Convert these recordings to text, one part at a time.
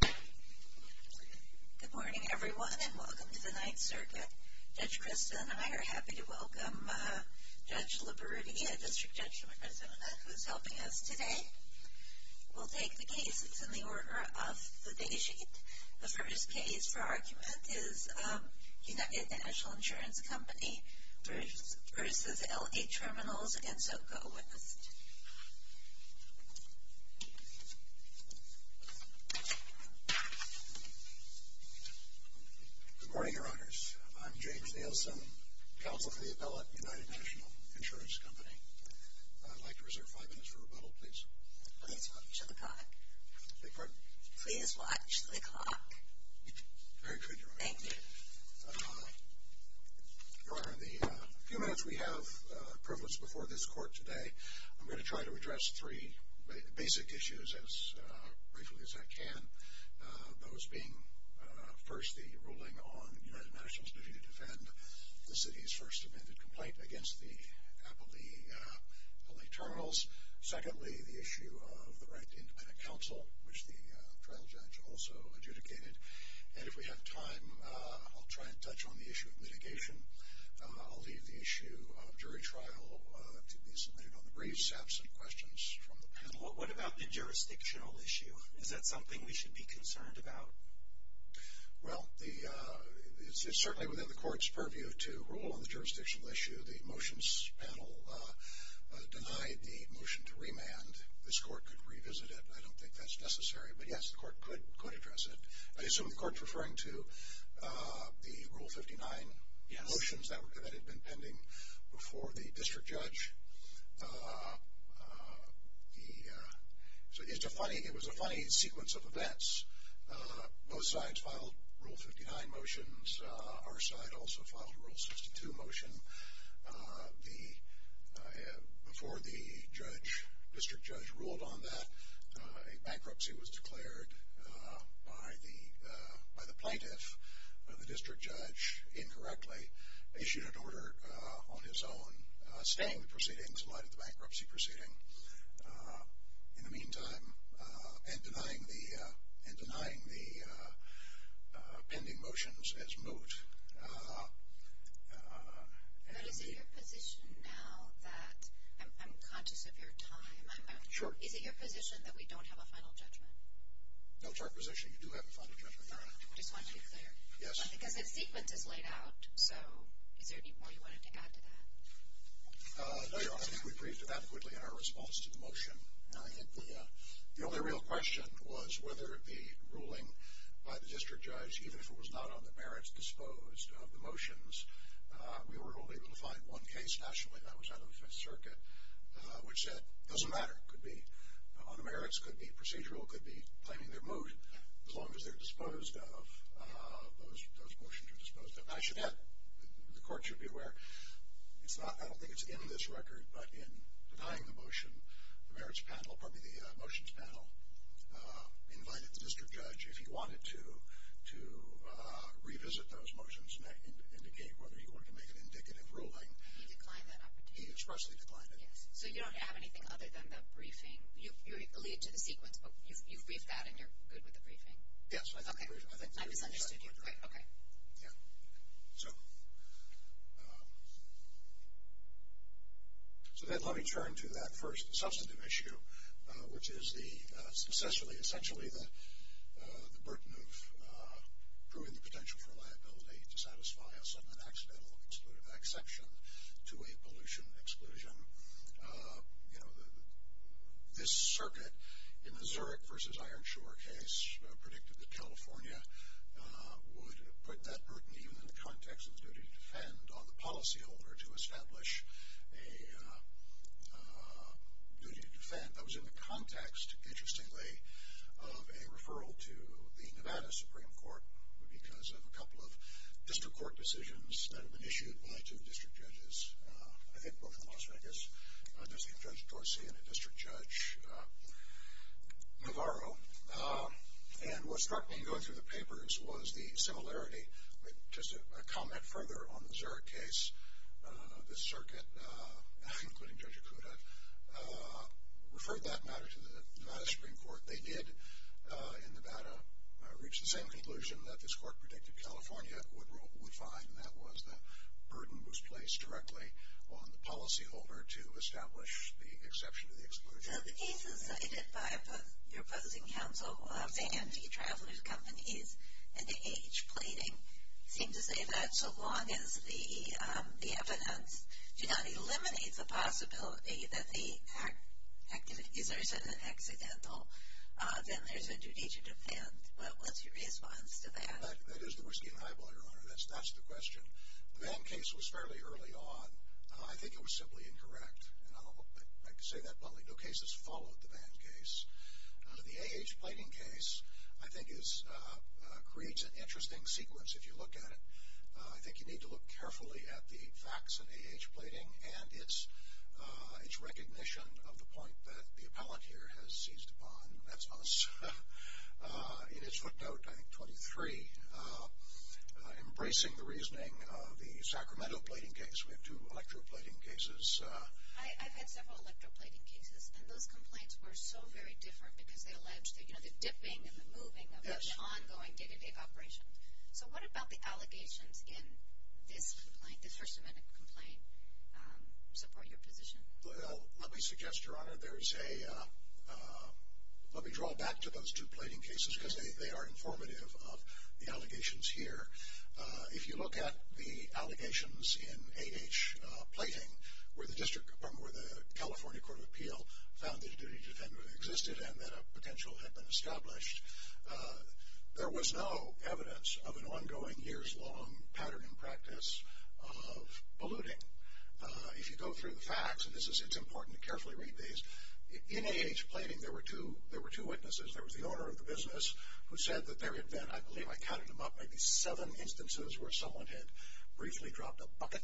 Good morning, everyone, and welcome to the Ninth Circuit. Judge Christa and I are happy to welcome Judge Liberutti, a District Judge from Arizona, who is helping us today. We'll take the case. It's in the order of the day sheet. The first case for argument is United National Insurance Company v. L.A. Terminals, Inc. Good morning, Your Honors. I'm James Nielsen, Counsel to the Appellate, United National Insurance Company. I'd like to reserve five minutes for rebuttal, please. Please watch the clock. Beg your pardon? Please watch the clock. Very good, Your Honor. Thank you. Your Honor, in the few minutes we have, the prevalence before this Court today, I'm going to try to address three basic issues as briefly as I can, those being, first, the ruling on United National's duty to defend the City's first amended complaint against the Appellee, L.A. Terminals. Secondly, the issue of the right to independent counsel, which the trial judge also adjudicated. And if we have time, I'll try and touch on the issue of mitigation. I'll leave the issue of jury trial to be submitted on the briefs, absent questions from the panel. What about the jurisdictional issue? Is that something we should be concerned about? Well, it's certainly within the Court's purview to rule on the jurisdictional issue. The motions panel denied the motion to remand. This Court could revisit it. I don't think that's necessary. But, yes, the Court could address it. I assume the Court's referring to the Rule 59 motions that had been pending before the district judge. It was a funny sequence of events. Both sides filed Rule 59 motions. Our side also filed a Rule 62 motion before the district judge ruled on that. A bankruptcy was declared by the plaintiff. The district judge, incorrectly, issued an order on his own, stalling the proceedings in light of the bankruptcy proceeding. In the meantime, and denying the pending motions as moot. But is it your position now that I'm conscious of your time. Sure. Is it your position that we don't have a final judgment? No, it's our position you do have a final judgment, Your Honor. I just want to be clear. Yes. Because that sequence is laid out, so is there any more you wanted to add to that? No, Your Honor. I think we briefed it adequately in our response to the motion. I think the only real question was whether the ruling by the district judge, even if it was not on the merits disposed of the motions, we were only able to find one case nationally that was out of the Fifth Circuit, which said, doesn't matter, could be on the merits, could be procedural, could be claiming they're moot, as long as they're disposed of, those motions are disposed of. I should add, the court should be aware, it's not, I don't think it's in this record, but in denying the motion, the merits panel, pardon me, the motions panel, invited the district judge, if he wanted to, to revisit those motions and indicate whether he wanted to make an indicative ruling. He declined that opportunity. He expressly declined it. So you don't have anything other than the briefing? You lead to the sequence, but you've briefed that and you're good with the briefing? Yes. Okay. I misunderstood you. Okay. Yeah. So then let me turn to that first substantive issue, which is the, essentially the burden of proving the potential for liability to satisfy us with an accidental exclusive exception to a pollution exclusion. You know, this circuit in the Zurich versus Ironshore case predicted that California would put that burden, even in the context of the duty to defend, on the policyholder to establish a duty to defend. That was in the context, interestingly, of a referral to the Nevada Supreme Court because of a couple of district court decisions that had been issued by two district judges, I think both in Las Vegas, Judge Dorsey and a district judge, Navarro. And what struck me in going through the papers was the similarity, just a comment further on the Zurich case, this circuit, including Judge Okuda, referred that matter to the Nevada Supreme Court. They did, in Nevada, reach the same conclusion that this court predicted California would find, and that was the burden was placed directly on the policyholder to establish the exception to the exclusion. The cases cited by your opposing counsel of the anti-traveler companies and the age pleading seem to say that so long as the evidence eliminates the possibility that the, is there an accidental, then there's a duty to defend. What's your response to that? That is the whiskey and highball, Your Honor. That's the question. The Van case was fairly early on. I think it was simply incorrect. And I'll say that bluntly. No cases followed the Van case. The age pleading case, I think, creates an interesting sequence if you look at it. I think you need to look carefully at the facts in the age pleading and its recognition of the point that the appellate here has seized upon. That's us. In its footnote, I think, 23, embracing the reasoning of the Sacramento pleading case, we have two electoral pleading cases. I've had several electoral pleading cases, and those complaints were so very different because they allege the dipping and the moving of the ongoing day-to-day operation. So what about the allegations in this complaint, the First Amendment complaint, support your position? Let me suggest, Your Honor, there's a, let me draw back to those two pleading cases because they are informative of the allegations here. If you look at the allegations in age pleading where the California Court of Appeal found that a duty to defend existed and that a potential had been established, there was no evidence of an ongoing years-long pattern and practice of polluting. If you go through the facts, and it's important to carefully read these, in age pleading there were two witnesses. There was the owner of the business who said that there had been, I believe I counted them up, maybe seven instances where someone had briefly dropped a bucket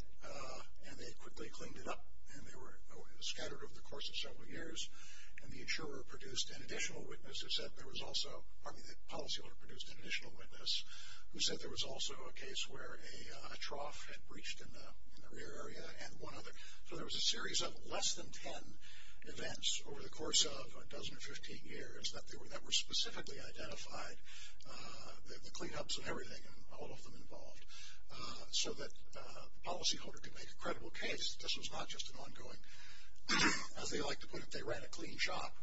and they quickly cleaned it up and they were scattered over the course of several years. And the insurer produced an additional witness who said there was also, pardon me, the policyholder produced an additional witness who said there was also a case where a trough had breached in the rear area and one other. So there was a series of less than ten events over the course of a dozen or 15 years that were specifically identified, the cleanups and everything and all of them involved, so that the policyholder could make a credible case that this was not just an ongoing, as they like to put it, they ran a clean shop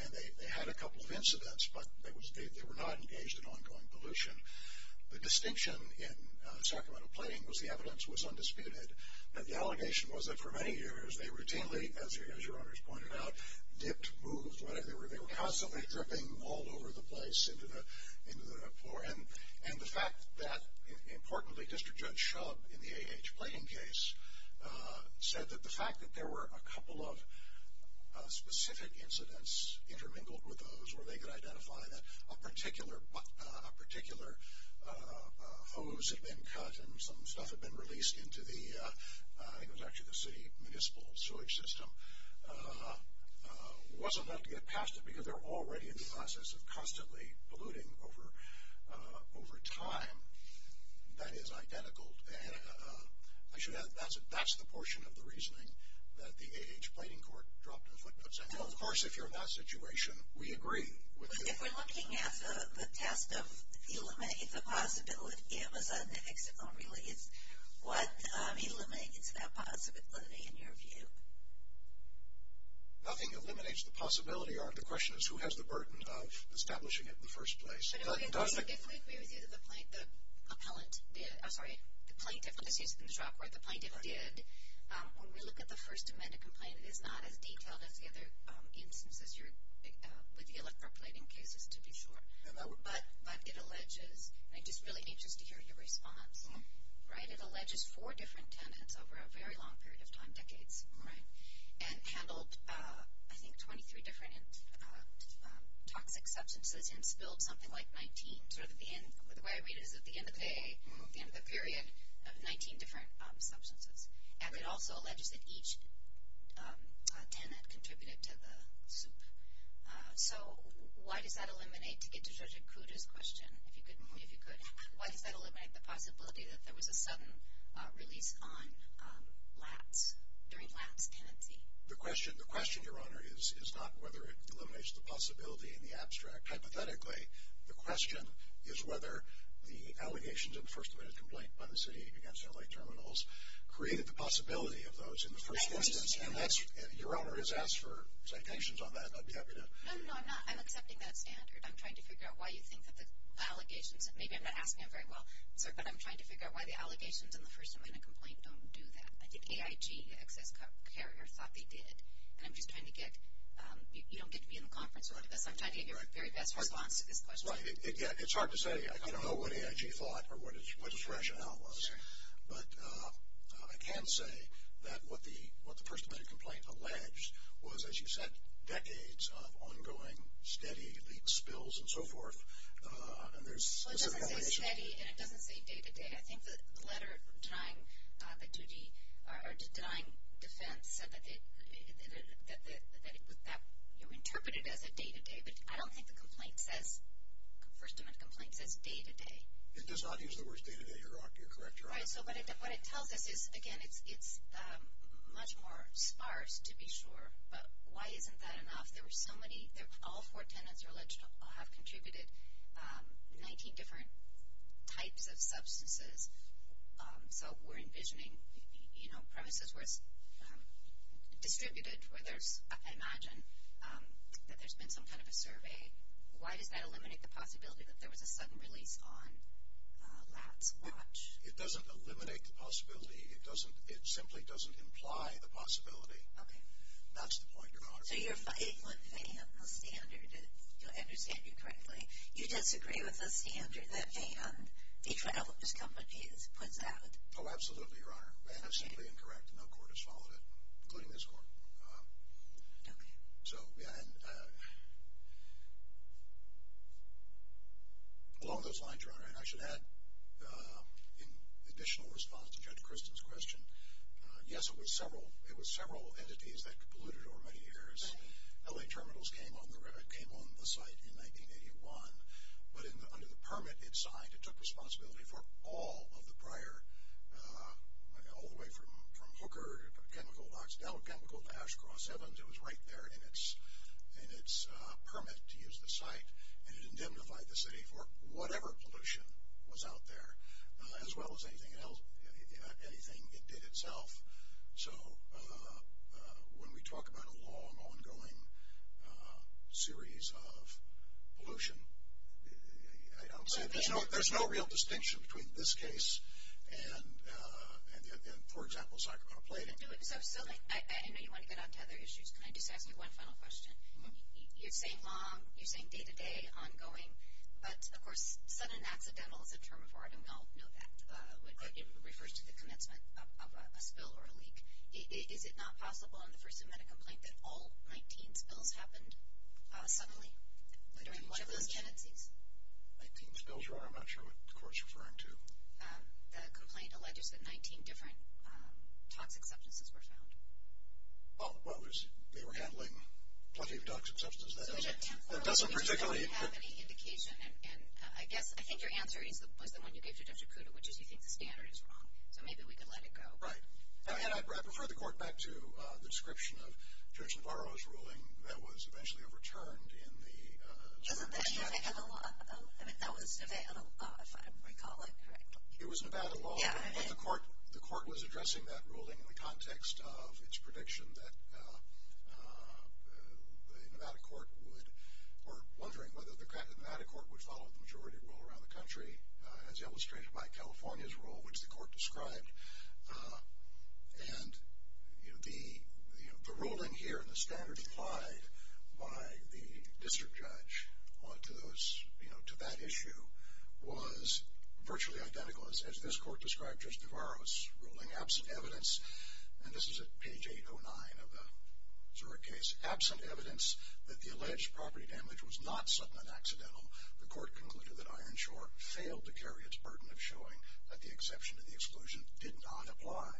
and they had a couple of incidents, but they were not engaged in ongoing pollution. The distinction in Sacramento Pleading was the evidence was undisputed and the allegation was that for many years they routinely, as your owners pointed out, dipped, moved, whatever, they were constantly dripping all over the place into the floor and the fact that, importantly, District Judge Shub in the A.H. Pleading case said that the fact that there were a couple of specific incidents intermingled with those where they could identify that a particular hose had been cut and some stuff had been released into the, I think it was actually the city municipal sewage system, wasn't enough to get past it because they're already in the process of constantly polluting over time. That is identical, I should add, that's the portion of the reasoning that the A.H. Pleading Court dropped a footnote saying, well, of course, if you're in that situation, we agree. But if we're looking at the test of eliminate the possibility of a sudden exit or release, what eliminates that possibility in your view? Nothing eliminates the possibility. The question is who has the burden of establishing it in the first place. But if we agree with you that the plaintiff did, when we look at the First Amendment complaint, it is not as detailed as the other instances with the electroplating cases, to be sure. But it alleges, and I'm just really anxious to hear your response, right, but it alleges four different tenants over a very long period of time, decades, right, and handled, I think, 23 different toxic substances and spilled something like 19, sort of at the end, the way I read it is at the end of the day, the end of the period, of 19 different substances. And it also alleges that each tenant contributed to the soup. So why does that eliminate, to get to Judge Akuta's question, if you could, if you could, why does that eliminate the possibility that there was a sudden release on lats, during lats tenancy? The question, Your Honor, is not whether it eliminates the possibility in the abstract. Hypothetically, the question is whether the allegations in the First Amendment complaint by the city against L.A. Terminals created the possibility of those in the first instance. Your Honor has asked for citations on that, and I'd be happy to. No, no, no, I'm not. I'm accepting that standard. I'm trying to figure out why you think that the allegations, and maybe I'm not asking you very well, but I'm trying to figure out why the allegations in the First Amendment complaint don't do that. I think AIG, Access Carrier, thought they did. And I'm just trying to get, you don't get to be in the conference room with us. I'm trying to get your very best response to this question. It's hard to say. I don't know what AIG thought or what its rationale was. But I can say that what the First Amendment complaint alleged was, as you said, decades of ongoing, steady leaks, spills, and so forth. So it doesn't say steady, and it doesn't say day-to-day. I think the letter denying defense said that you interpret it as a day-to-day. But I don't think the complaint says, the First Amendment complaint says day-to-day. It does not use the words day-to-day. You're correct, Your Honor. All right, so what it tells us is, again, it's much more sparse, to be sure. But why isn't that enough? There were so many, all four tenants are alleged to have contributed 19 different types of substances. So we're envisioning, you know, premises were distributed where there's, I imagine, that there's been some kind of a survey. Why does that eliminate the possibility that there was a sudden release on Lat's watch? It doesn't eliminate the possibility. It simply doesn't imply the possibility. Okay. That's the point, Your Honor. So you're fighting with a standard, if I understand you correctly. You disagree with the standard that Van, each one of those companies, puts out. Oh, absolutely, Your Honor. Van is simply incorrect. No court has followed it, including this court. Okay. So, yeah, and along those lines, Your Honor, and I should add, in additional response to Judge Kristen's question, yes, it was several entities that polluted over many years. L.A. Terminals came on the site in 1981. But under the permit it signed, it took responsibility for all of the prior, all the way from Hooker, chemical to Oxidel, chemical to Ash Cross Heavens, it was right there in its permit to use the site. And it indemnified the city for whatever pollution was out there, as well as anything else, anything it did itself. So when we talk about a long, ongoing series of pollution, I don't see it. There's no real distinction between this case and, for example, Sacramento Plating. So, I know you want to get on to other issues. Can I just ask you one final question? You're saying long, you're saying day-to-day, ongoing, but, of course, sudden and accidental is a term of art, and we all know that. It refers to the commencement of a spill or a leak. Is it not possible on the first amendment complaint that all 19 spills happened suddenly during one of those tenancies? Nineteen spills? I'm not sure what the court is referring to. The complaint alleges that 19 different toxic substances were found. Oh, well, they were handling plenty of toxic substances. That doesn't particularly. I guess I think your answer was the one you gave to Judge Acuda, which is you think the standard is wrong. So maybe we could let it go. Right. And I'd refer the court back to the description of Judge Navarro's ruling that was eventually overturned in the... I mean, that was Nevada law, if I recall it correctly. It was Nevada law. Yeah, it is. But the court was addressing that ruling in the context of its prediction that the Nevada court would, or wondering whether the Nevada court would follow the majority rule around the country, as illustrated by California's rule, which the court described. And the ruling here and the standard applied by the district judge to that issue was virtually identical, as this court described Judge Navarro's ruling, absent evidence. And this is at page 809 of the Zurich case. Absent evidence that the alleged property damage was not sudden and accidental, the court concluded that Ironshore failed to carry its burden of showing that the exception to the exclusion did not apply.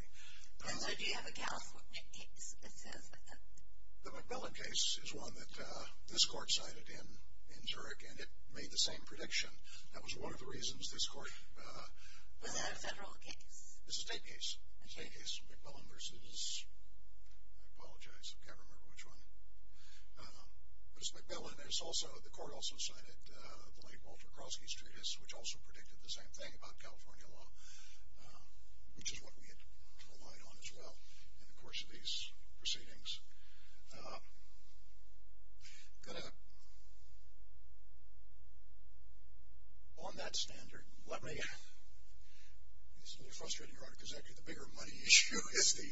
And so do you have a California case that says that? The MacMillan case is one that this court cited in Zurich, and it made the same prediction. That was one of the reasons this court... Was that a federal case? It's a state case. A state case. MacMillan versus, I apologize, I can't remember which one. But it's MacMillan, and it's also, the court also cited the late Walter Krosky's treatise, which also predicted the same thing about California law, which is what we had relied on as well in the course of these proceedings. On that standard, let me... This is a little frustrating, because actually the bigger money issue is the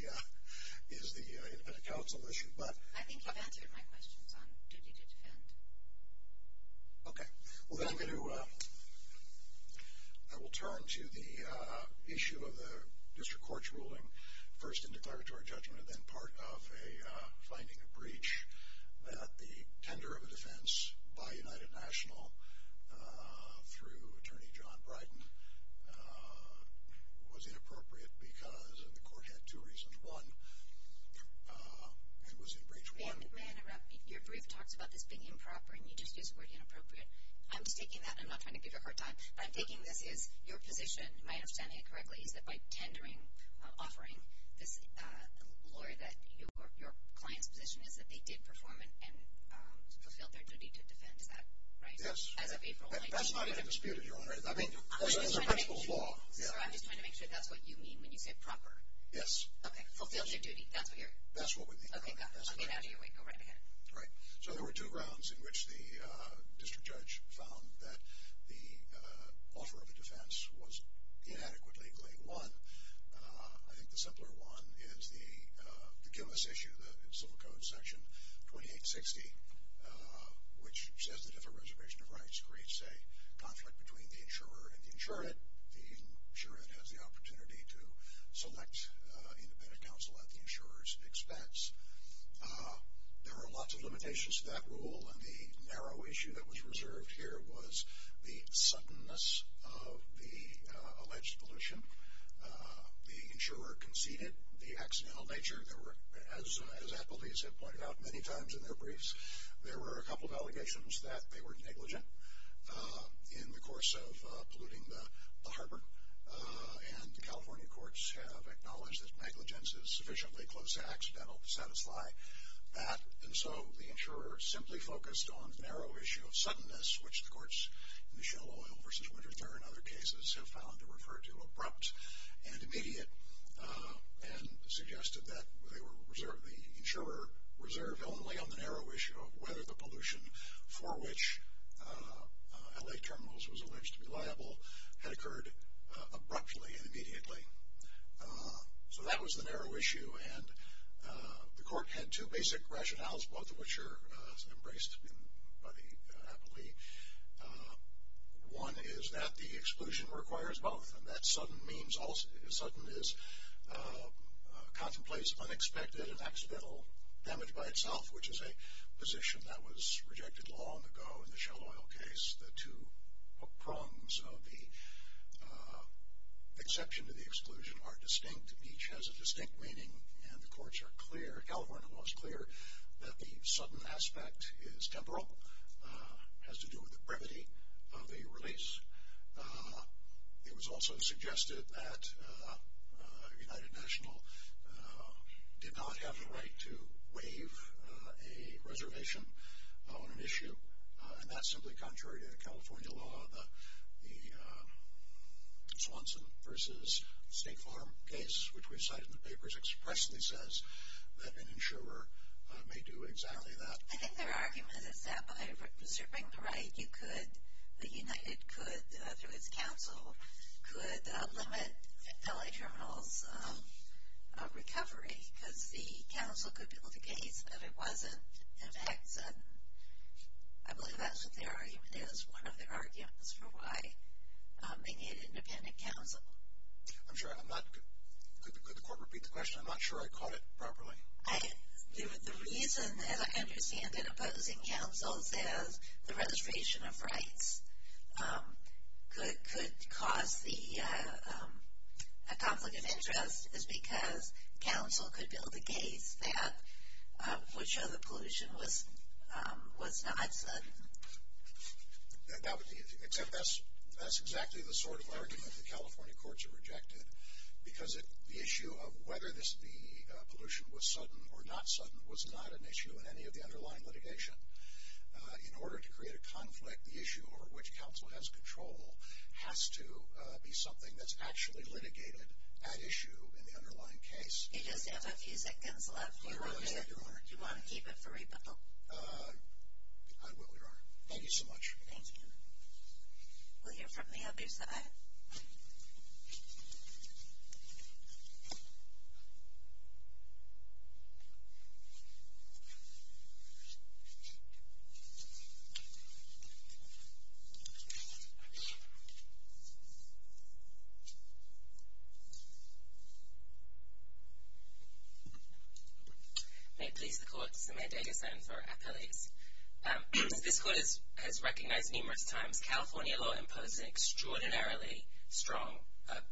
independent counsel issue, but... My question is on duty to defend. Okay. Well, then I'm going to... I will turn to the issue of the district court's ruling, first in declaratory judgment, and then part of a finding of breach that the tender of a defense by United National through Attorney John Bryden was inappropriate, because the court had two reasons. One, it was in Breach 1. Ma'am, your brief talks about this being improper, and you just used the word inappropriate. I'm just taking that, and I'm not trying to give you a hard time, but I'm taking this as your position. My understanding, correctly, is that by tendering, offering this lawyer your client's position is that they did perform and fulfilled their duty to defend. Is that right? Yes. As of April 19... That's not even disputed, Your Honor. I mean, that's a principle of law. Sir, I'm just trying to make sure that's what you mean when you say proper. Yes. Okay. Fulfilled your duty. That's what you're... That's what we mean, Your Honor. Okay. I'll get out of your way. Go right ahead. Right. So there were two grounds in which the district judge found that the offer of a defense was inadequately laid. One, I think the simpler one, is the Gilmas issue, the Civil Code Section 2860, which says that if a reservation of rights creates a conflict between the insurer and the insured, the insured has the opportunity to select independent counsel at the insurer's expense. There are lots of limitations to that rule, and the narrow issue that was reserved here was the suddenness of the alleged pollution. The insurer conceded the accidental nature. There were, as appellees have pointed out many times in their briefs, there were a couple of allegations that they were negligent in the course of polluting the harbor, and the California courts have acknowledged that negligence is sufficiently close to accidental to satisfy that, and so the insurer simply focused on the narrow issue of suddenness, which the courts in the Shell Oil v. Winterthur and other cases have found to refer to abrupt and immediate, and suggested that the insurer reserved only on the narrow issue of whether the pollution for which L.A. terminals was alleged to be liable had occurred abruptly and immediately. So that was the narrow issue, and the court had two basic rationales, both of which are embraced by the appellee. One is that the exclusion requires both, and that sudden is contemplates unexpected and accidental damage by itself, which is a position that was rejected long ago in the Shell Oil case. The two prongs of the exception to the exclusion are distinct. Each has a distinct meaning, and the California law is clear that the sudden aspect is temporal, has to do with the brevity of the release. It was also suggested that United National did not have the right to waive a reservation on an issue, and that's simply contrary to California law. The Swanson v. State Farm case, which we cited in the papers, expressly says that an insurer may do exactly that. I think their argument is that by reserving the right, United could, through its counsel, could limit L.A. terminals' recovery, because the counsel could build a case that it wasn't in fact sudden. I believe that's what their argument is, one of their arguments for why they need independent counsel. I'm sorry, could the court repeat the question? I'm not sure I caught it properly. The reason, as I understand it, opposing counsel says the registration of rights could cause a conflict of interest is because counsel could build a case that would show the pollution was not sudden. Except that's exactly the sort of argument the California courts have rejected, because the issue of whether the pollution was sudden or not sudden was not an issue in any of the underlying litigation. In order to create a conflict, the issue over which counsel has control has to be something that's actually litigated at issue in the underlying case. You just have a few seconds left. Do you want to keep it for rebuttal? I will, Your Honor. Thank you so much. Thank you. We'll hear from the other side. May it please the court to submit a decision for appellees. As this court has recognized numerous times, California law imposes an extraordinarily strong,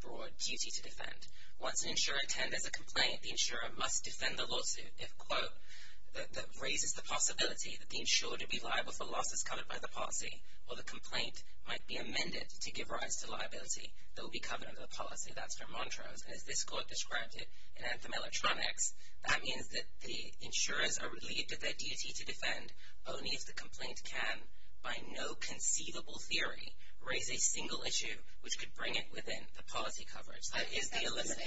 broad duty to defend. Once an insurer attends a complaint, the insurer must defend the lawsuit if, quote, that raises the possibility that the insurer to be liable for losses covered by the policy or the complaint might be amended to give rise to liability that will be covered under the policy. That's her mantra. And as this court described it in Anthem Electronics, that means that the insurers are relieved of their duty to defend only if the complaint can, by no conceivable theory, raise a single issue which could bring it within the policy coverage. That is the element.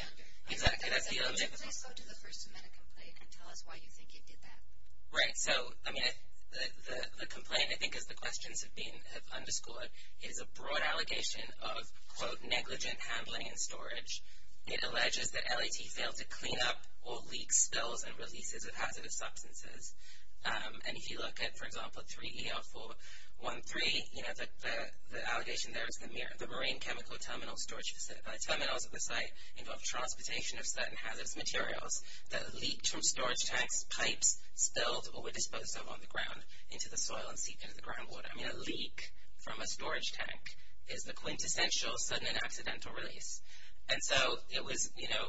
Exactly. That's the element. Can you please go to the First Amendment complaint and tell us why you think it did that? Right. So, I mean, the complaint, I think as the questions have been underscored, is a broad allegation of, quote, negligent handling and storage. It alleges that LAT failed to clean up or leak spills and releases of hazardous substances. And if you look at, for example, 3EL413, you know, the allegation there is the marine chemical terminal storage facility. Terminals at the site involve transportation of certain hazardous materials that leaked from storage tanks, pipes spilled or were disposed of on the ground into the soil and seeped into the groundwater. I mean, a leak from a storage tank is the quintessential sudden and accidental release. And so it was, you know,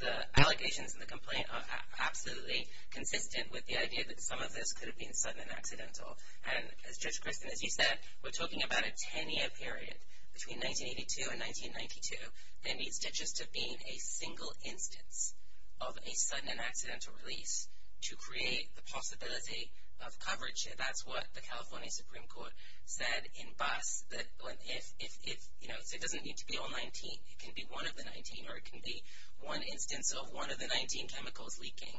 the allegations in the complaint are absolutely consistent with the idea that some of this could have been sudden and accidental. And as Judge Christin, as you said, we're talking about a 10-year period between 1982 and 1992. There needs to just have been a single instance of a sudden and accidental release to create the possibility of coverage. And that's what the California Supreme Court said in bus that if, you know, it doesn't need to be all 19. It can be one of the 19 or it can be one instance of one of the 19 chemicals leaking.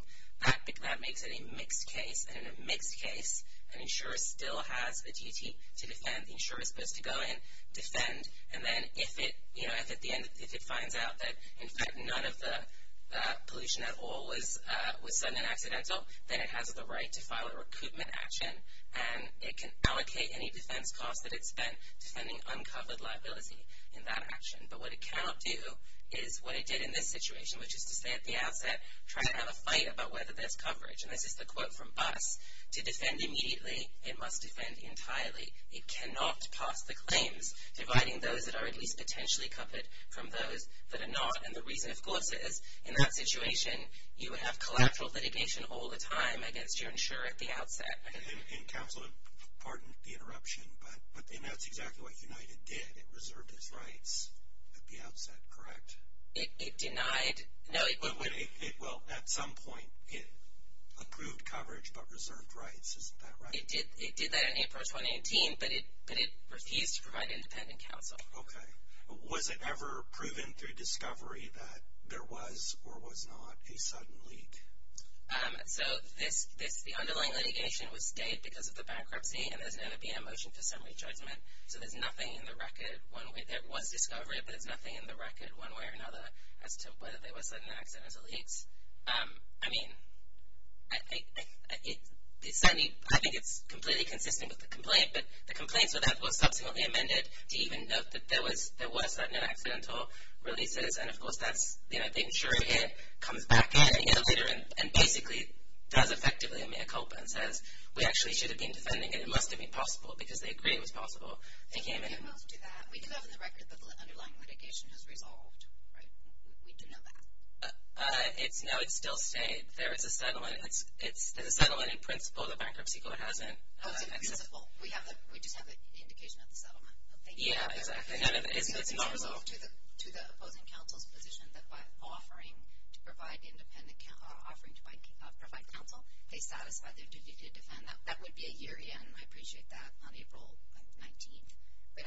That makes it a mixed case. And in a mixed case, an insurer still has a duty to defend. The insurer is supposed to go in, defend, and then if it, you know, if at the end, if it finds out that, in fact, none of the pollution at all was sudden and accidental, then it has the right to file a recoupment action. And it can allocate any defense costs that it spent defending uncovered liability in that action. But what it cannot do is what it did in this situation, which is to say at the outset, try to have a fight about whether there's coverage. And this is the quote from bus. To defend immediately, it must defend entirely. It cannot pass the claims, dividing those that are at least potentially covered from those that are not. And the reason, of course, is in that situation, you would have collateral litigation all the time against your insurer at the outset. And counsel, pardon the interruption, but that's exactly what United did. It reserved its rights at the outset, correct? It denied, no. Well, at some point, it approved coverage but reserved rights. Isn't that right? It did that in April 2018, but it refused to provide independent counsel. Okay. Was it ever proven through discovery that there was or was not a sudden leak? So the underlying litigation was stayed because of the bankruptcy, and there's going to be a motion for summary judgment. So there's nothing in the record. There was discovery, but there's nothing in the record one way or another as to whether there was sudden accidents or leaks. I mean, I think it's completely consistent with the complaint, but the complaint for that was subsequently amended to even note that there were sudden and accidental releases. And, of course, the insurer here comes back in a year later and basically does effectively a mea culpa and says, we actually should have been defending it. It must have been possible because they agreed it was possible. They came in. You moved to that. We do have in the record that the underlying litigation has resolved, right? We do know that. No, it's still stayed. There is a settlement. There's a settlement in principle the bankruptcy court hasn't. We just have the indication of the settlement. Yeah, exactly. It's not resolved. To the opposing counsel's position that by offering to provide counsel, they satisfy their duty to defend. That would be a year, and I appreciate that, on April 19th. But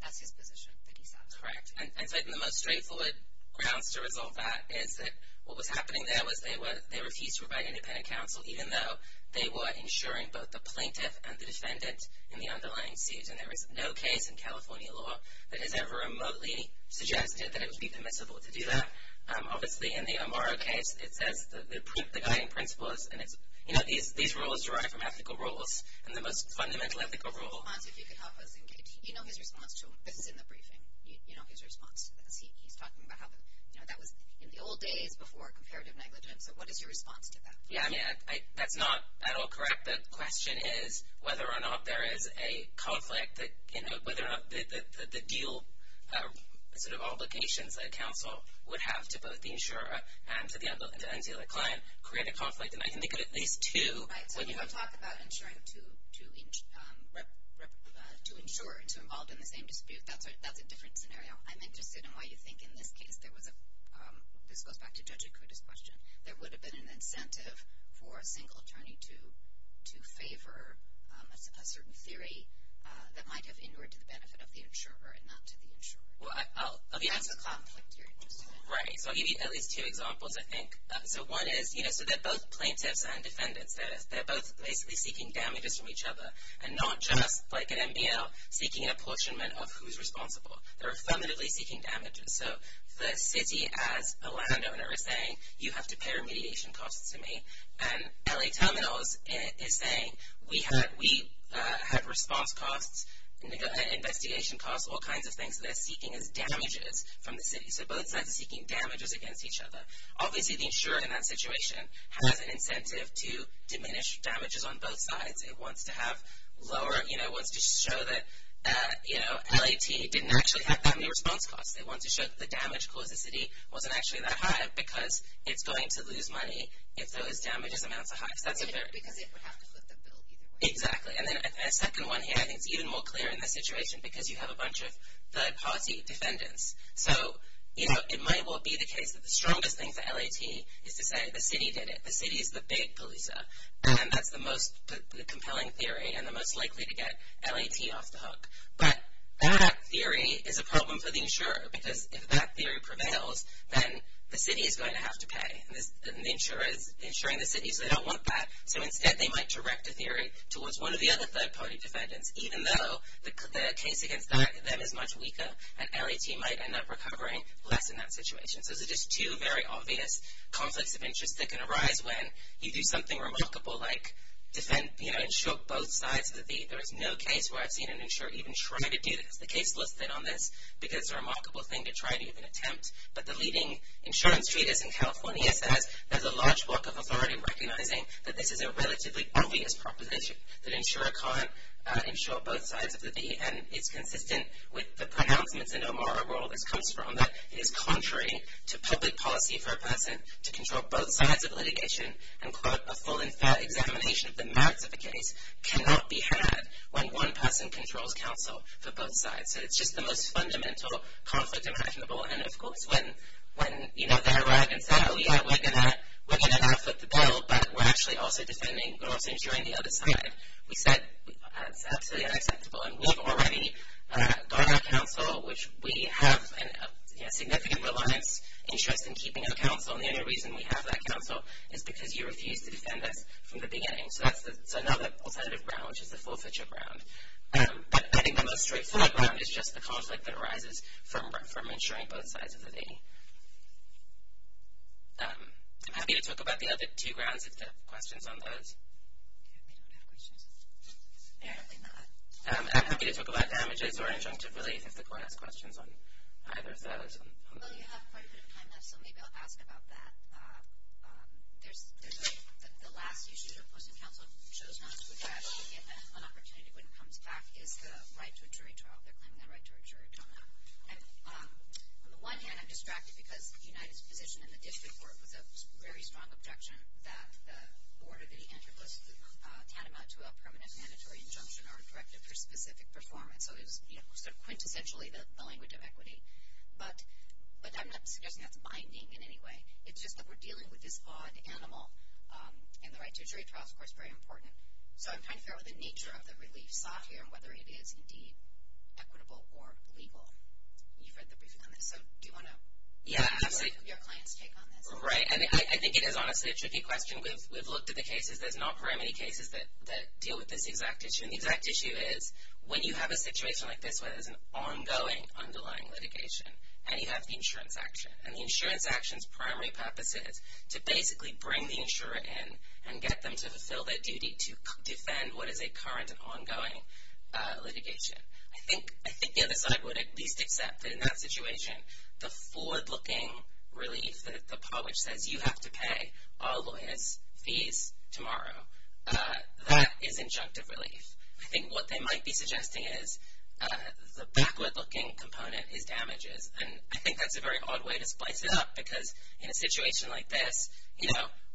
that's his position that he satisfies. Correct. And the most straightforward grounds to resolve that is that what was happening there was they refused to provide independent counsel, even though they were insuring both the plaintiff and the defendant in the underlying suit. And there is no case in California law that has ever remotely suggested that it would be permissible to do that. Obviously, in the Amaro case, it says the guiding principles. You know, these rules derive from ethical rules, and the most fundamental ethical rule. Hans, if you could help us engage. You know his response to him. This is in the briefing. You know his response to this. He's talking about how that was in the old days before comparative negligence. So what is your response to that? Yeah, I mean, that's not at all correct. The question is whether or not there is a conflict that, you know, whether or not the deal sort of obligations that a counsel would have to both the insurer and to the client create a conflict. And I can think of at least two. Right. So you don't talk about insuring two insurers who are involved in the same dispute. That's a different scenario. I'm interested in why you think in this case there was a – this goes back to Judge Okuda's question. There would have been an incentive for a single attorney to favor a certain theory that might have inured to the benefit of the insurer and not to the insurer. Well, I'll be honest. That's a conflict you're interested in. Right. So I'll give you at least two examples, I think. So one is, you know, so they're both plaintiffs and defendants. They're both basically seeking damages from each other, and not just like an NBL seeking an apportionment of who's responsible. They're affirmatively seeking damages. So the city, as a landowner, is saying, you have to pay remediation costs to me. And L.A. Terminals is saying, we have response costs, investigation costs, all kinds of things that they're seeking as damages from the city. So both sides are seeking damages against each other. Obviously, the insurer in that situation has an incentive to diminish damages on both sides. It wants to have lower – you know, it wants to show that, you know, L.A.T. didn't actually have that many response costs. It wants to show that the damage caused to the city wasn't actually that high because it's going to lose money if those damages amounts are high. Because it would have to flip the bill either way. Exactly. And then a second one here I think is even more clear in this situation because you have a bunch of third-party defendants. So, you know, it might well be the case that the strongest thing for L.A.T. is to say the city did it. The city is the big police. And that's the most compelling theory and the most likely to get L.A.T. off the hook. But that theory is a problem for the insurer because if that theory prevails, then the city is going to have to pay. And the insurer is insuring the city, so they don't want that. So instead, they might direct a theory towards one of the other third-party defendants even though the case against them is much weaker and L.A.T. might end up recovering less in that situation. So those are just two very obvious conflicts of interest that can arise when you do something remarkable like, you know, insure both sides. There is no case where I've seen an insurer even try to do this. The case listed on this, because it's a remarkable thing to try to even attempt. But the leading insurance treatise in California says there's a large block of authority recognizing that this is a relatively obvious proposition that an insurer can't insure both sides of the V. And it's consistent with the pronouncements in O'Mara rule this comes from that it is contrary to public policy for a person to control both sides of litigation and quote, a full and fair examination of the merits of a case cannot be had when one person controls counsel for both sides. So it's just the most fundamental conflict imaginable. And of course, when, you know, they arrived and said, oh yeah, we're going to now foot the bill, but we're actually also defending, we're also insuring the other side, we said, that's absolutely unacceptable. And we've already got our counsel, which we have a significant reliance, interest in keeping our counsel. And the only reason we have that counsel is because you refused to defend us from the beginning. So that's another alternative ground, which is the full-fledged ground. But I think the most straightforward ground is just the conflict that arises from insuring both sides of the V. I'm happy to talk about the other two grounds if there are questions on those. I'm happy to talk about damages or injunctive relief if the court has questions on either of those. Well, you have quite a bit of time left, so maybe I'll ask about that. There's a – the last issue that Post and Counsel chose not to address, and an opportunity when it comes back, is the right to a jury trial. They're claiming the right to a jury trial now. And on the one hand, I'm distracted because United's position in the district court was a very strong objection that the board of the antitrust tantamount to a permanent mandatory injunction or directive for specific performance. So it was, you know, sort of quintessentially the language of equity. But I'm not suggesting that's binding in any way. It's just that we're dealing with this odd animal. And the right to a jury trial is, of course, very important. So I'm trying to figure out the nature of the relief sought here and whether it is indeed equitable or illegal. You've read the briefing on this. So do you want to – Yeah, absolutely. – have your client's take on this? Right. And I think it is honestly a tricky question. We've looked at the cases. There's not very many cases that deal with this exact issue. And the exact issue is when you have a situation like this where there's an ongoing underlying litigation and you have the insurance action. And the insurance action's primary purpose is to basically bring the insurer in and get them to fulfill their duty to defend what is a current and ongoing litigation. I think the other side would at least accept that in that situation, the forward-looking relief that the publish says you have to pay all lawyers' fees tomorrow, that is injunctive relief. I think what they might be suggesting is the backward-looking component is damages. And I think that's a very odd way to splice it up because in a situation like this,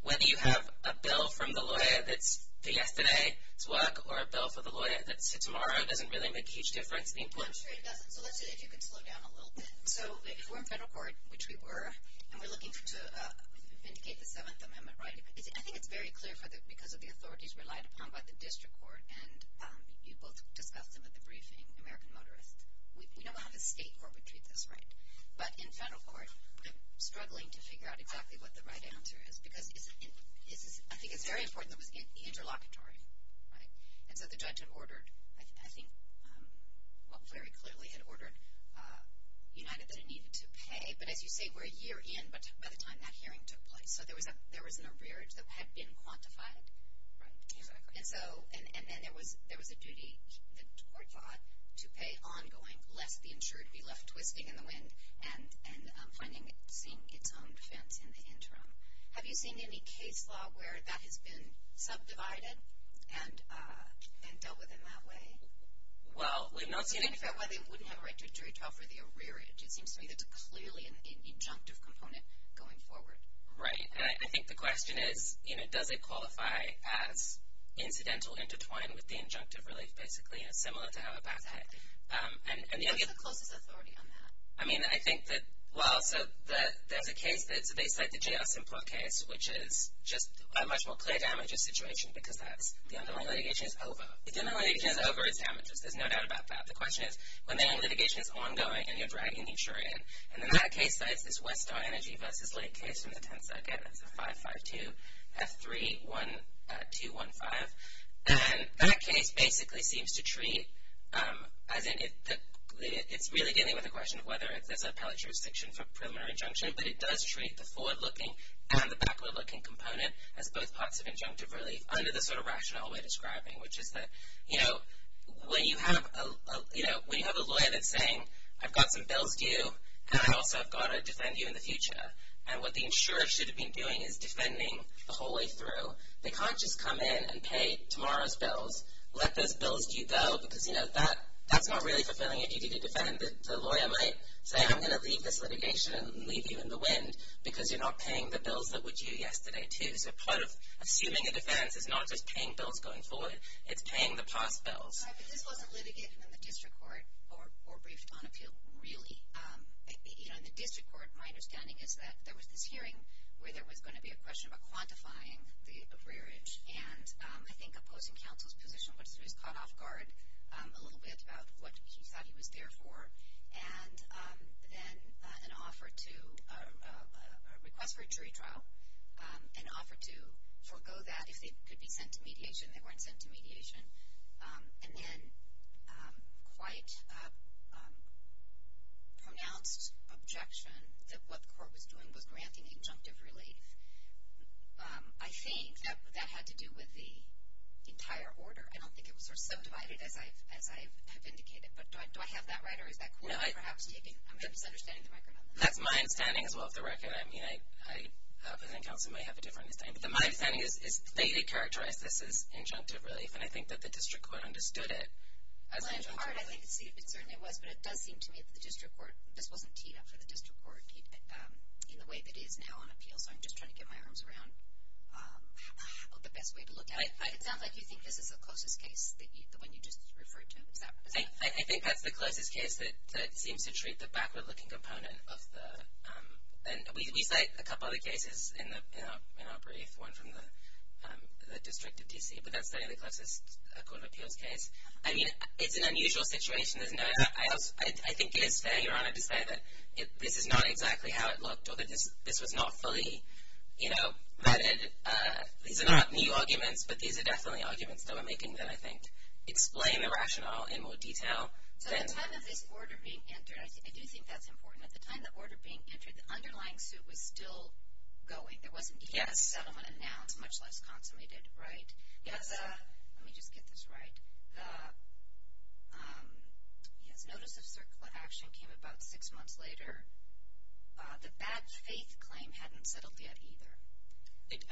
whether you have a bill from the lawyer that's for yesterday's work or a bill for the lawyer that's tomorrow doesn't really make a huge difference. I'm sure it doesn't. So let's see if you can slow down a little bit. So if we're in federal court, which we were, and we're looking to vindicate the Seventh Amendment right, I think it's very clear because of the authorities relied upon by the district court and you both discussed them at the briefing, American Motorists. We know how the state court would treat this, right? But in federal court, I'm struggling to figure out exactly what the right answer is because I think it's very important that it was the interlocutory, right? And so the judge had ordered, I think very clearly had ordered United that it needed to pay. But as you say, we're a year in, but by the time that hearing took place, so there was an arrearage that had been quantified. Right, exactly. And so, and then there was a duty, the court thought, to pay ongoing lest the insurer be left twisting in the wind and finding, seeing its own defense in the interim. Have you seen any case law where that has been subdivided and dealt with in that way? Well, we've not seen any. So in fact, why they wouldn't have a right to a jury trial for the arrearage. It seems to me that's clearly an injunctive component going forward. Right, and I think the question is, you know, does it qualify as incidental intertwined with the injunctive relief, basically, and it's similar to how it passed HEC. And the only other- What would be the closest authority on that? I mean, I think that, well, so there's a case that's, they cite the J.R. Simpler case, which is just a much more clear damages situation because that's, the underlying litigation is over. If the underlying litigation is over, it's damages. There's no doubt about that. The question is, when the litigation is ongoing and you're dragging the insurer in, and then that case cites this Westar Energy v. Lake case from the 10th Circuit. It's a 552F3215. And that case basically seems to treat, as in, it's really dealing with the question of whether there's a appellate jurisdiction for preliminary injunction, but it does treat the forward-looking and the backward-looking component as both parts of injunctive relief under the sort of rational way describing, which is that, you know, when you have a lawyer that's saying, I've got some bills due, and I also have got to defend you in the future. And what the insurer should have been doing is defending the whole way through. They can't just come in and pay tomorrow's bills, let those bills due go, because, you know, that's not really fulfilling a duty to defend. The lawyer might say, I'm going to leave this litigation and leave you in the wind because you're not paying the bills that were due yesterday, too. So part of assuming a defense is not just paying bills going forward. It's paying the past bills. This wasn't litigated in the district court or briefed on appeal, really. You know, in the district court, my understanding is that there was this hearing where there was going to be a question about quantifying the rearage, and I think opposing counsel's position was caught off guard a little bit about what he thought he was there for. And then an offer to request for a jury trial, an offer to forego that if they could be sent to mediation. They weren't sent to mediation. And then quite a pronounced objection that what the court was doing was granting injunctive relief. I think that had to do with the entire order. I don't think it was subdivided as I have indicated. But do I have that right, or is that correct? I'm misunderstanding the record on this. That's my understanding, as well, of the record. I mean, opposing counsel might have a different understanding. But my understanding is they did characterize this as injunctive relief, and I think that the district court understood it as injunctive relief. Well, in part, I think it certainly was, but it does seem to me that the district court – this wasn't teed up for the district court in the way that it is now on appeal, so I'm just trying to get my arms around the best way to look at it. It sounds like you think this is the closest case, the one you just referred to. I think that's the closest case that seems to treat the backward-looking component of the – and we cite a couple other cases in our brief, one from the District of D.C., but that's certainly the closest court of appeals case. I mean, it's an unusual situation. I think it is fair, Your Honor, to say that this is not exactly how it looked or that this was not fully vetted. These are not new arguments, but these are definitely arguments that we're making that I think explain the rationale in more detail. So at the time of this order being entered, I do think that's important. At the time of the order being entered, the underlying suit was still going. There was, indeed, a settlement announced, much less consummated, right? Yes. Let me just get this right. Yes, notice of action came about six months later. The bad faith claim hadn't settled yet either.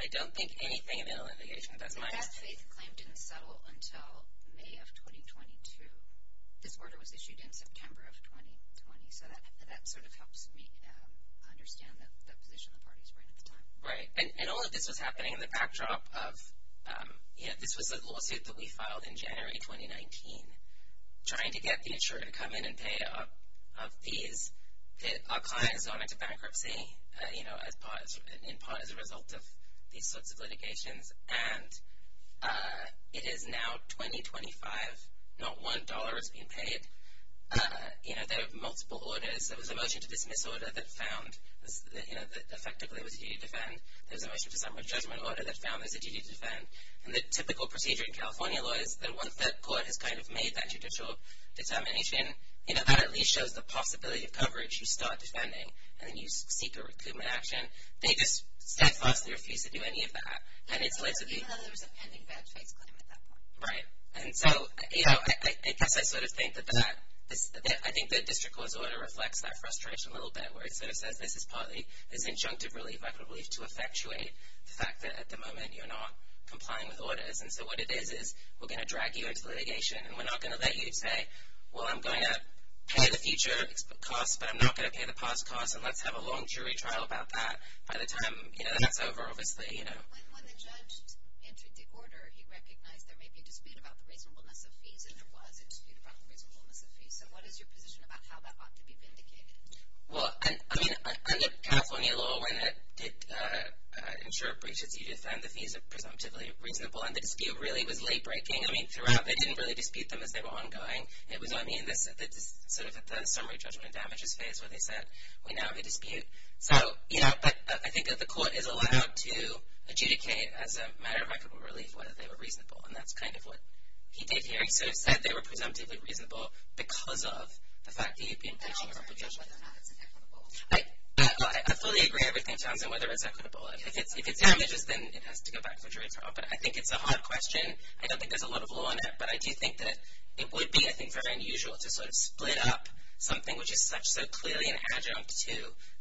I don't think anything in the litigation does mind. The bad faith claim didn't settle until May of 2022. This order was issued in September of 2020, so that sort of helps me understand the position the parties were in at the time. Right. And all of this was happening in the backdrop of, you know, this was a lawsuit that we filed in January 2019, trying to get the insurer to come in and pay up of these. Our client has gone into bankruptcy, you know, in part as a result of these sorts of litigations. And it is now 2025. Not one dollar is being paid. You know, there are multiple orders. There was a motion to dismiss order that found, you know, that effectively it was a duty to defend. There was a motion to summon a judgment order that found this a duty to defend. And the typical procedure in California law is that once that court has kind of made that judicial determination, you know, that at least shows the possibility of coverage. You start defending, and then you seek a recoupment action. They just steadfastly refuse to do any of that. Even though there was a pending badge-based claim at that point. And so, you know, I guess I sort of think that that – I think the district court's order reflects that frustration a little bit, where it sort of says this is partly as injunctive relief, I believe, to effectuate the fact that at the moment you're not complying with orders. And so what it is is we're going to drag you into litigation, and we're not going to let you say, well, I'm going to pay the future cost, but I'm not going to pay the past cost, and let's have a long jury trial about that by the time, you know, that's over, obviously, you know. When the judge entered the order, he recognized there may be a dispute about the reasonableness of fees, and there was a dispute about the reasonableness of fees. So what is your position about how that ought to be vindicated? Well, I mean, under California law, when it did ensure breaches, you defend the fees of presumptively reasonable, and the dispute really was late-breaking. I mean, throughout, they didn't really dispute them as they were ongoing. It was only in this sort of summary judgment and damages phase where they said, we now have a dispute. So, you know, but I think that the court is allowed to adjudicate, as a matter of record of relief, whether they were reasonable, and that's kind of what he did here. He sort of said they were presumptively reasonable because of the fact that you'd be in position to judge whether or not it's equitable. I fully agree with everything Johnson, whether it's equitable. If it's damages, then it has to go back to a jury trial, but I think it's a hard question. I don't think there's a lot of law in it, but I do think that it would be, I think, very unusual to sort of split up something which is such, so clearly an adjunct to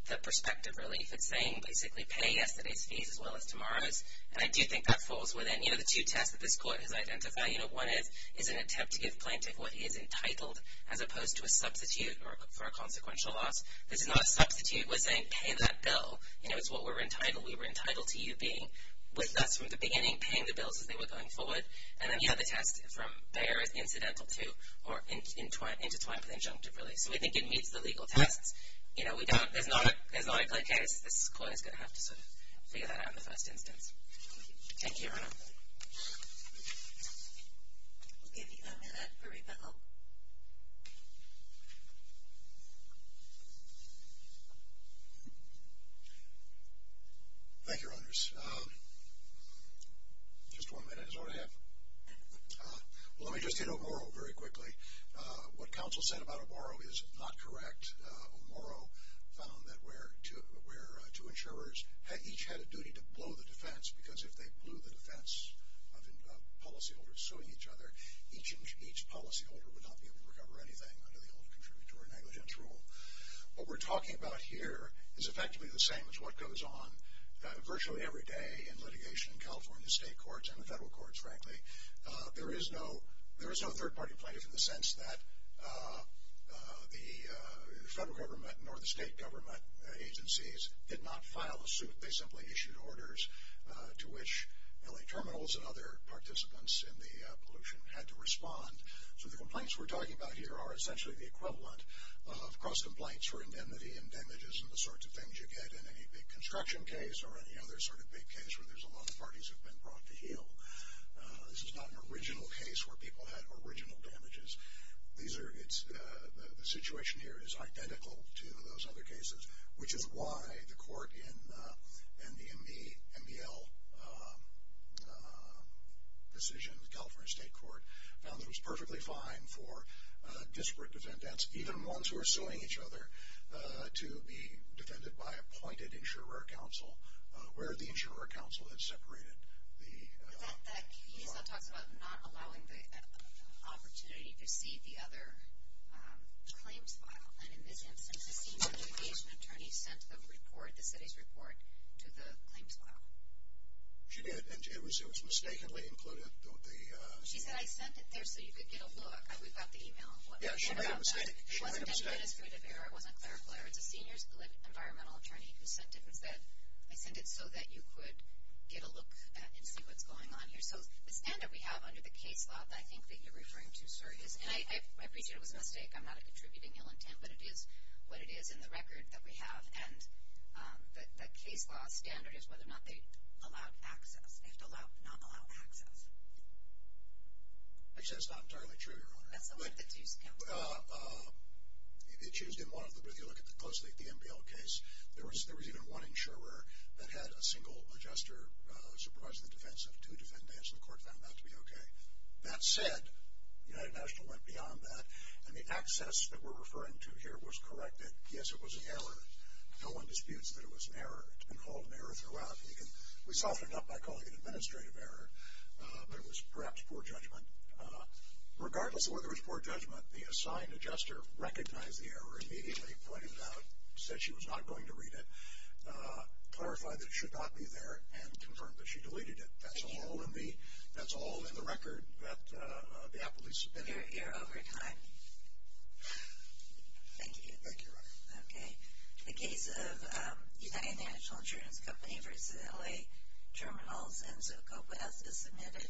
the prospective relief. It's saying, basically, pay yesterday's fees as well as tomorrow's, and I do think that falls within, you know, the two tests that this court has identified. You know, one is an attempt to give plaintiff what he is entitled, as opposed to a substitute for a consequential loss. This is not a substitute. We're saying, pay that bill. You know, it's what we're entitled. We were entitled to you being with us from the beginning, paying the bills as they were going forward, and then, you know, the test from there is incidental to or intertwined with the adjunctive relief. So, we think it meets the legal tests. You know, there's not a plain case. This court is going to have to sort of figure that out in the first instance. Thank you. Thank you, Your Honor. We'll give you a minute for rebuttal. Thank you, Your Honors. Just one minute is all I have. Let me just hit Oboro very quickly. What counsel said about Oboro is not correct. Oboro found that where two insurers each had a duty to blow the defense, because if they blew the defense of a policyholder suing each other, each policyholder would not be able to recover anything under the old contributory negligence rule. What we're talking about here is effectively the same as what goes on virtually every day in litigation in California state courts and the federal courts, frankly. There is no third-party plaintiff in the sense that the federal government nor the state government agencies did not file a suit. They simply issued orders to which L.A. Terminals and other participants in the pollution had to respond. So, the complaints we're talking about here are essentially the equivalent of cross-complaints for indemnity and damages and the sorts of things you get in any big construction case or any other sort of big case where there's a lot of parties who have been brought to heel. This is not an original case where people had original damages. The situation here is identical to those other cases, which is why the court in the MDL decision, the California state court, found that it was perfectly fine for disparate defendants, even ones who are suing each other, to be defended by appointed insurer counsel where the insurer counsel had separated the law. He also talks about not allowing the opportunity to see the other claims file. And in this instance, the senior litigation attorney sent the report, the city's report, to the claims file. She did, and it was mistakenly included. She said, I sent it there so you could get a look. We got the email. Yeah, she made a mistake. It wasn't any administrative error. It wasn't clerical error. The senior environmental attorney who sent it said, I sent it so that you could get a look and see what's going on here. So the standard we have under the case law that I think that you're referring to, sir, and I appreciate it was a mistake. I'm not a contributing ill intent, but it is what it is in the record that we have. And the case law standard is whether or not they allowed access, if not allowed access. Which is not entirely true, Your Honor. That's the word that's used. It's used in one of the, if you look closely at the MPL case, there was even one insurer that had a single adjuster supervising the defense, and two defendants, and the court found that to be okay. That said, United National went beyond that, and the access that we're referring to here was corrected. Yes, it was an error. No one disputes that it was an error. It's been called an error throughout. We soften it up by calling it an administrative error, but it was perhaps poor judgment. Regardless of whether it was poor judgment, the assigned adjuster recognized the error immediately, pointed it out, said she was not going to read it, clarified that it should not be there, and confirmed that she deleted it. That's all in the record that the Applebee's submitted. You're over time. Thank you. Thank you, Your Honor. Okay. The case of United National Insurance Company v. L.A. Terminals and Zocopeth is submitted.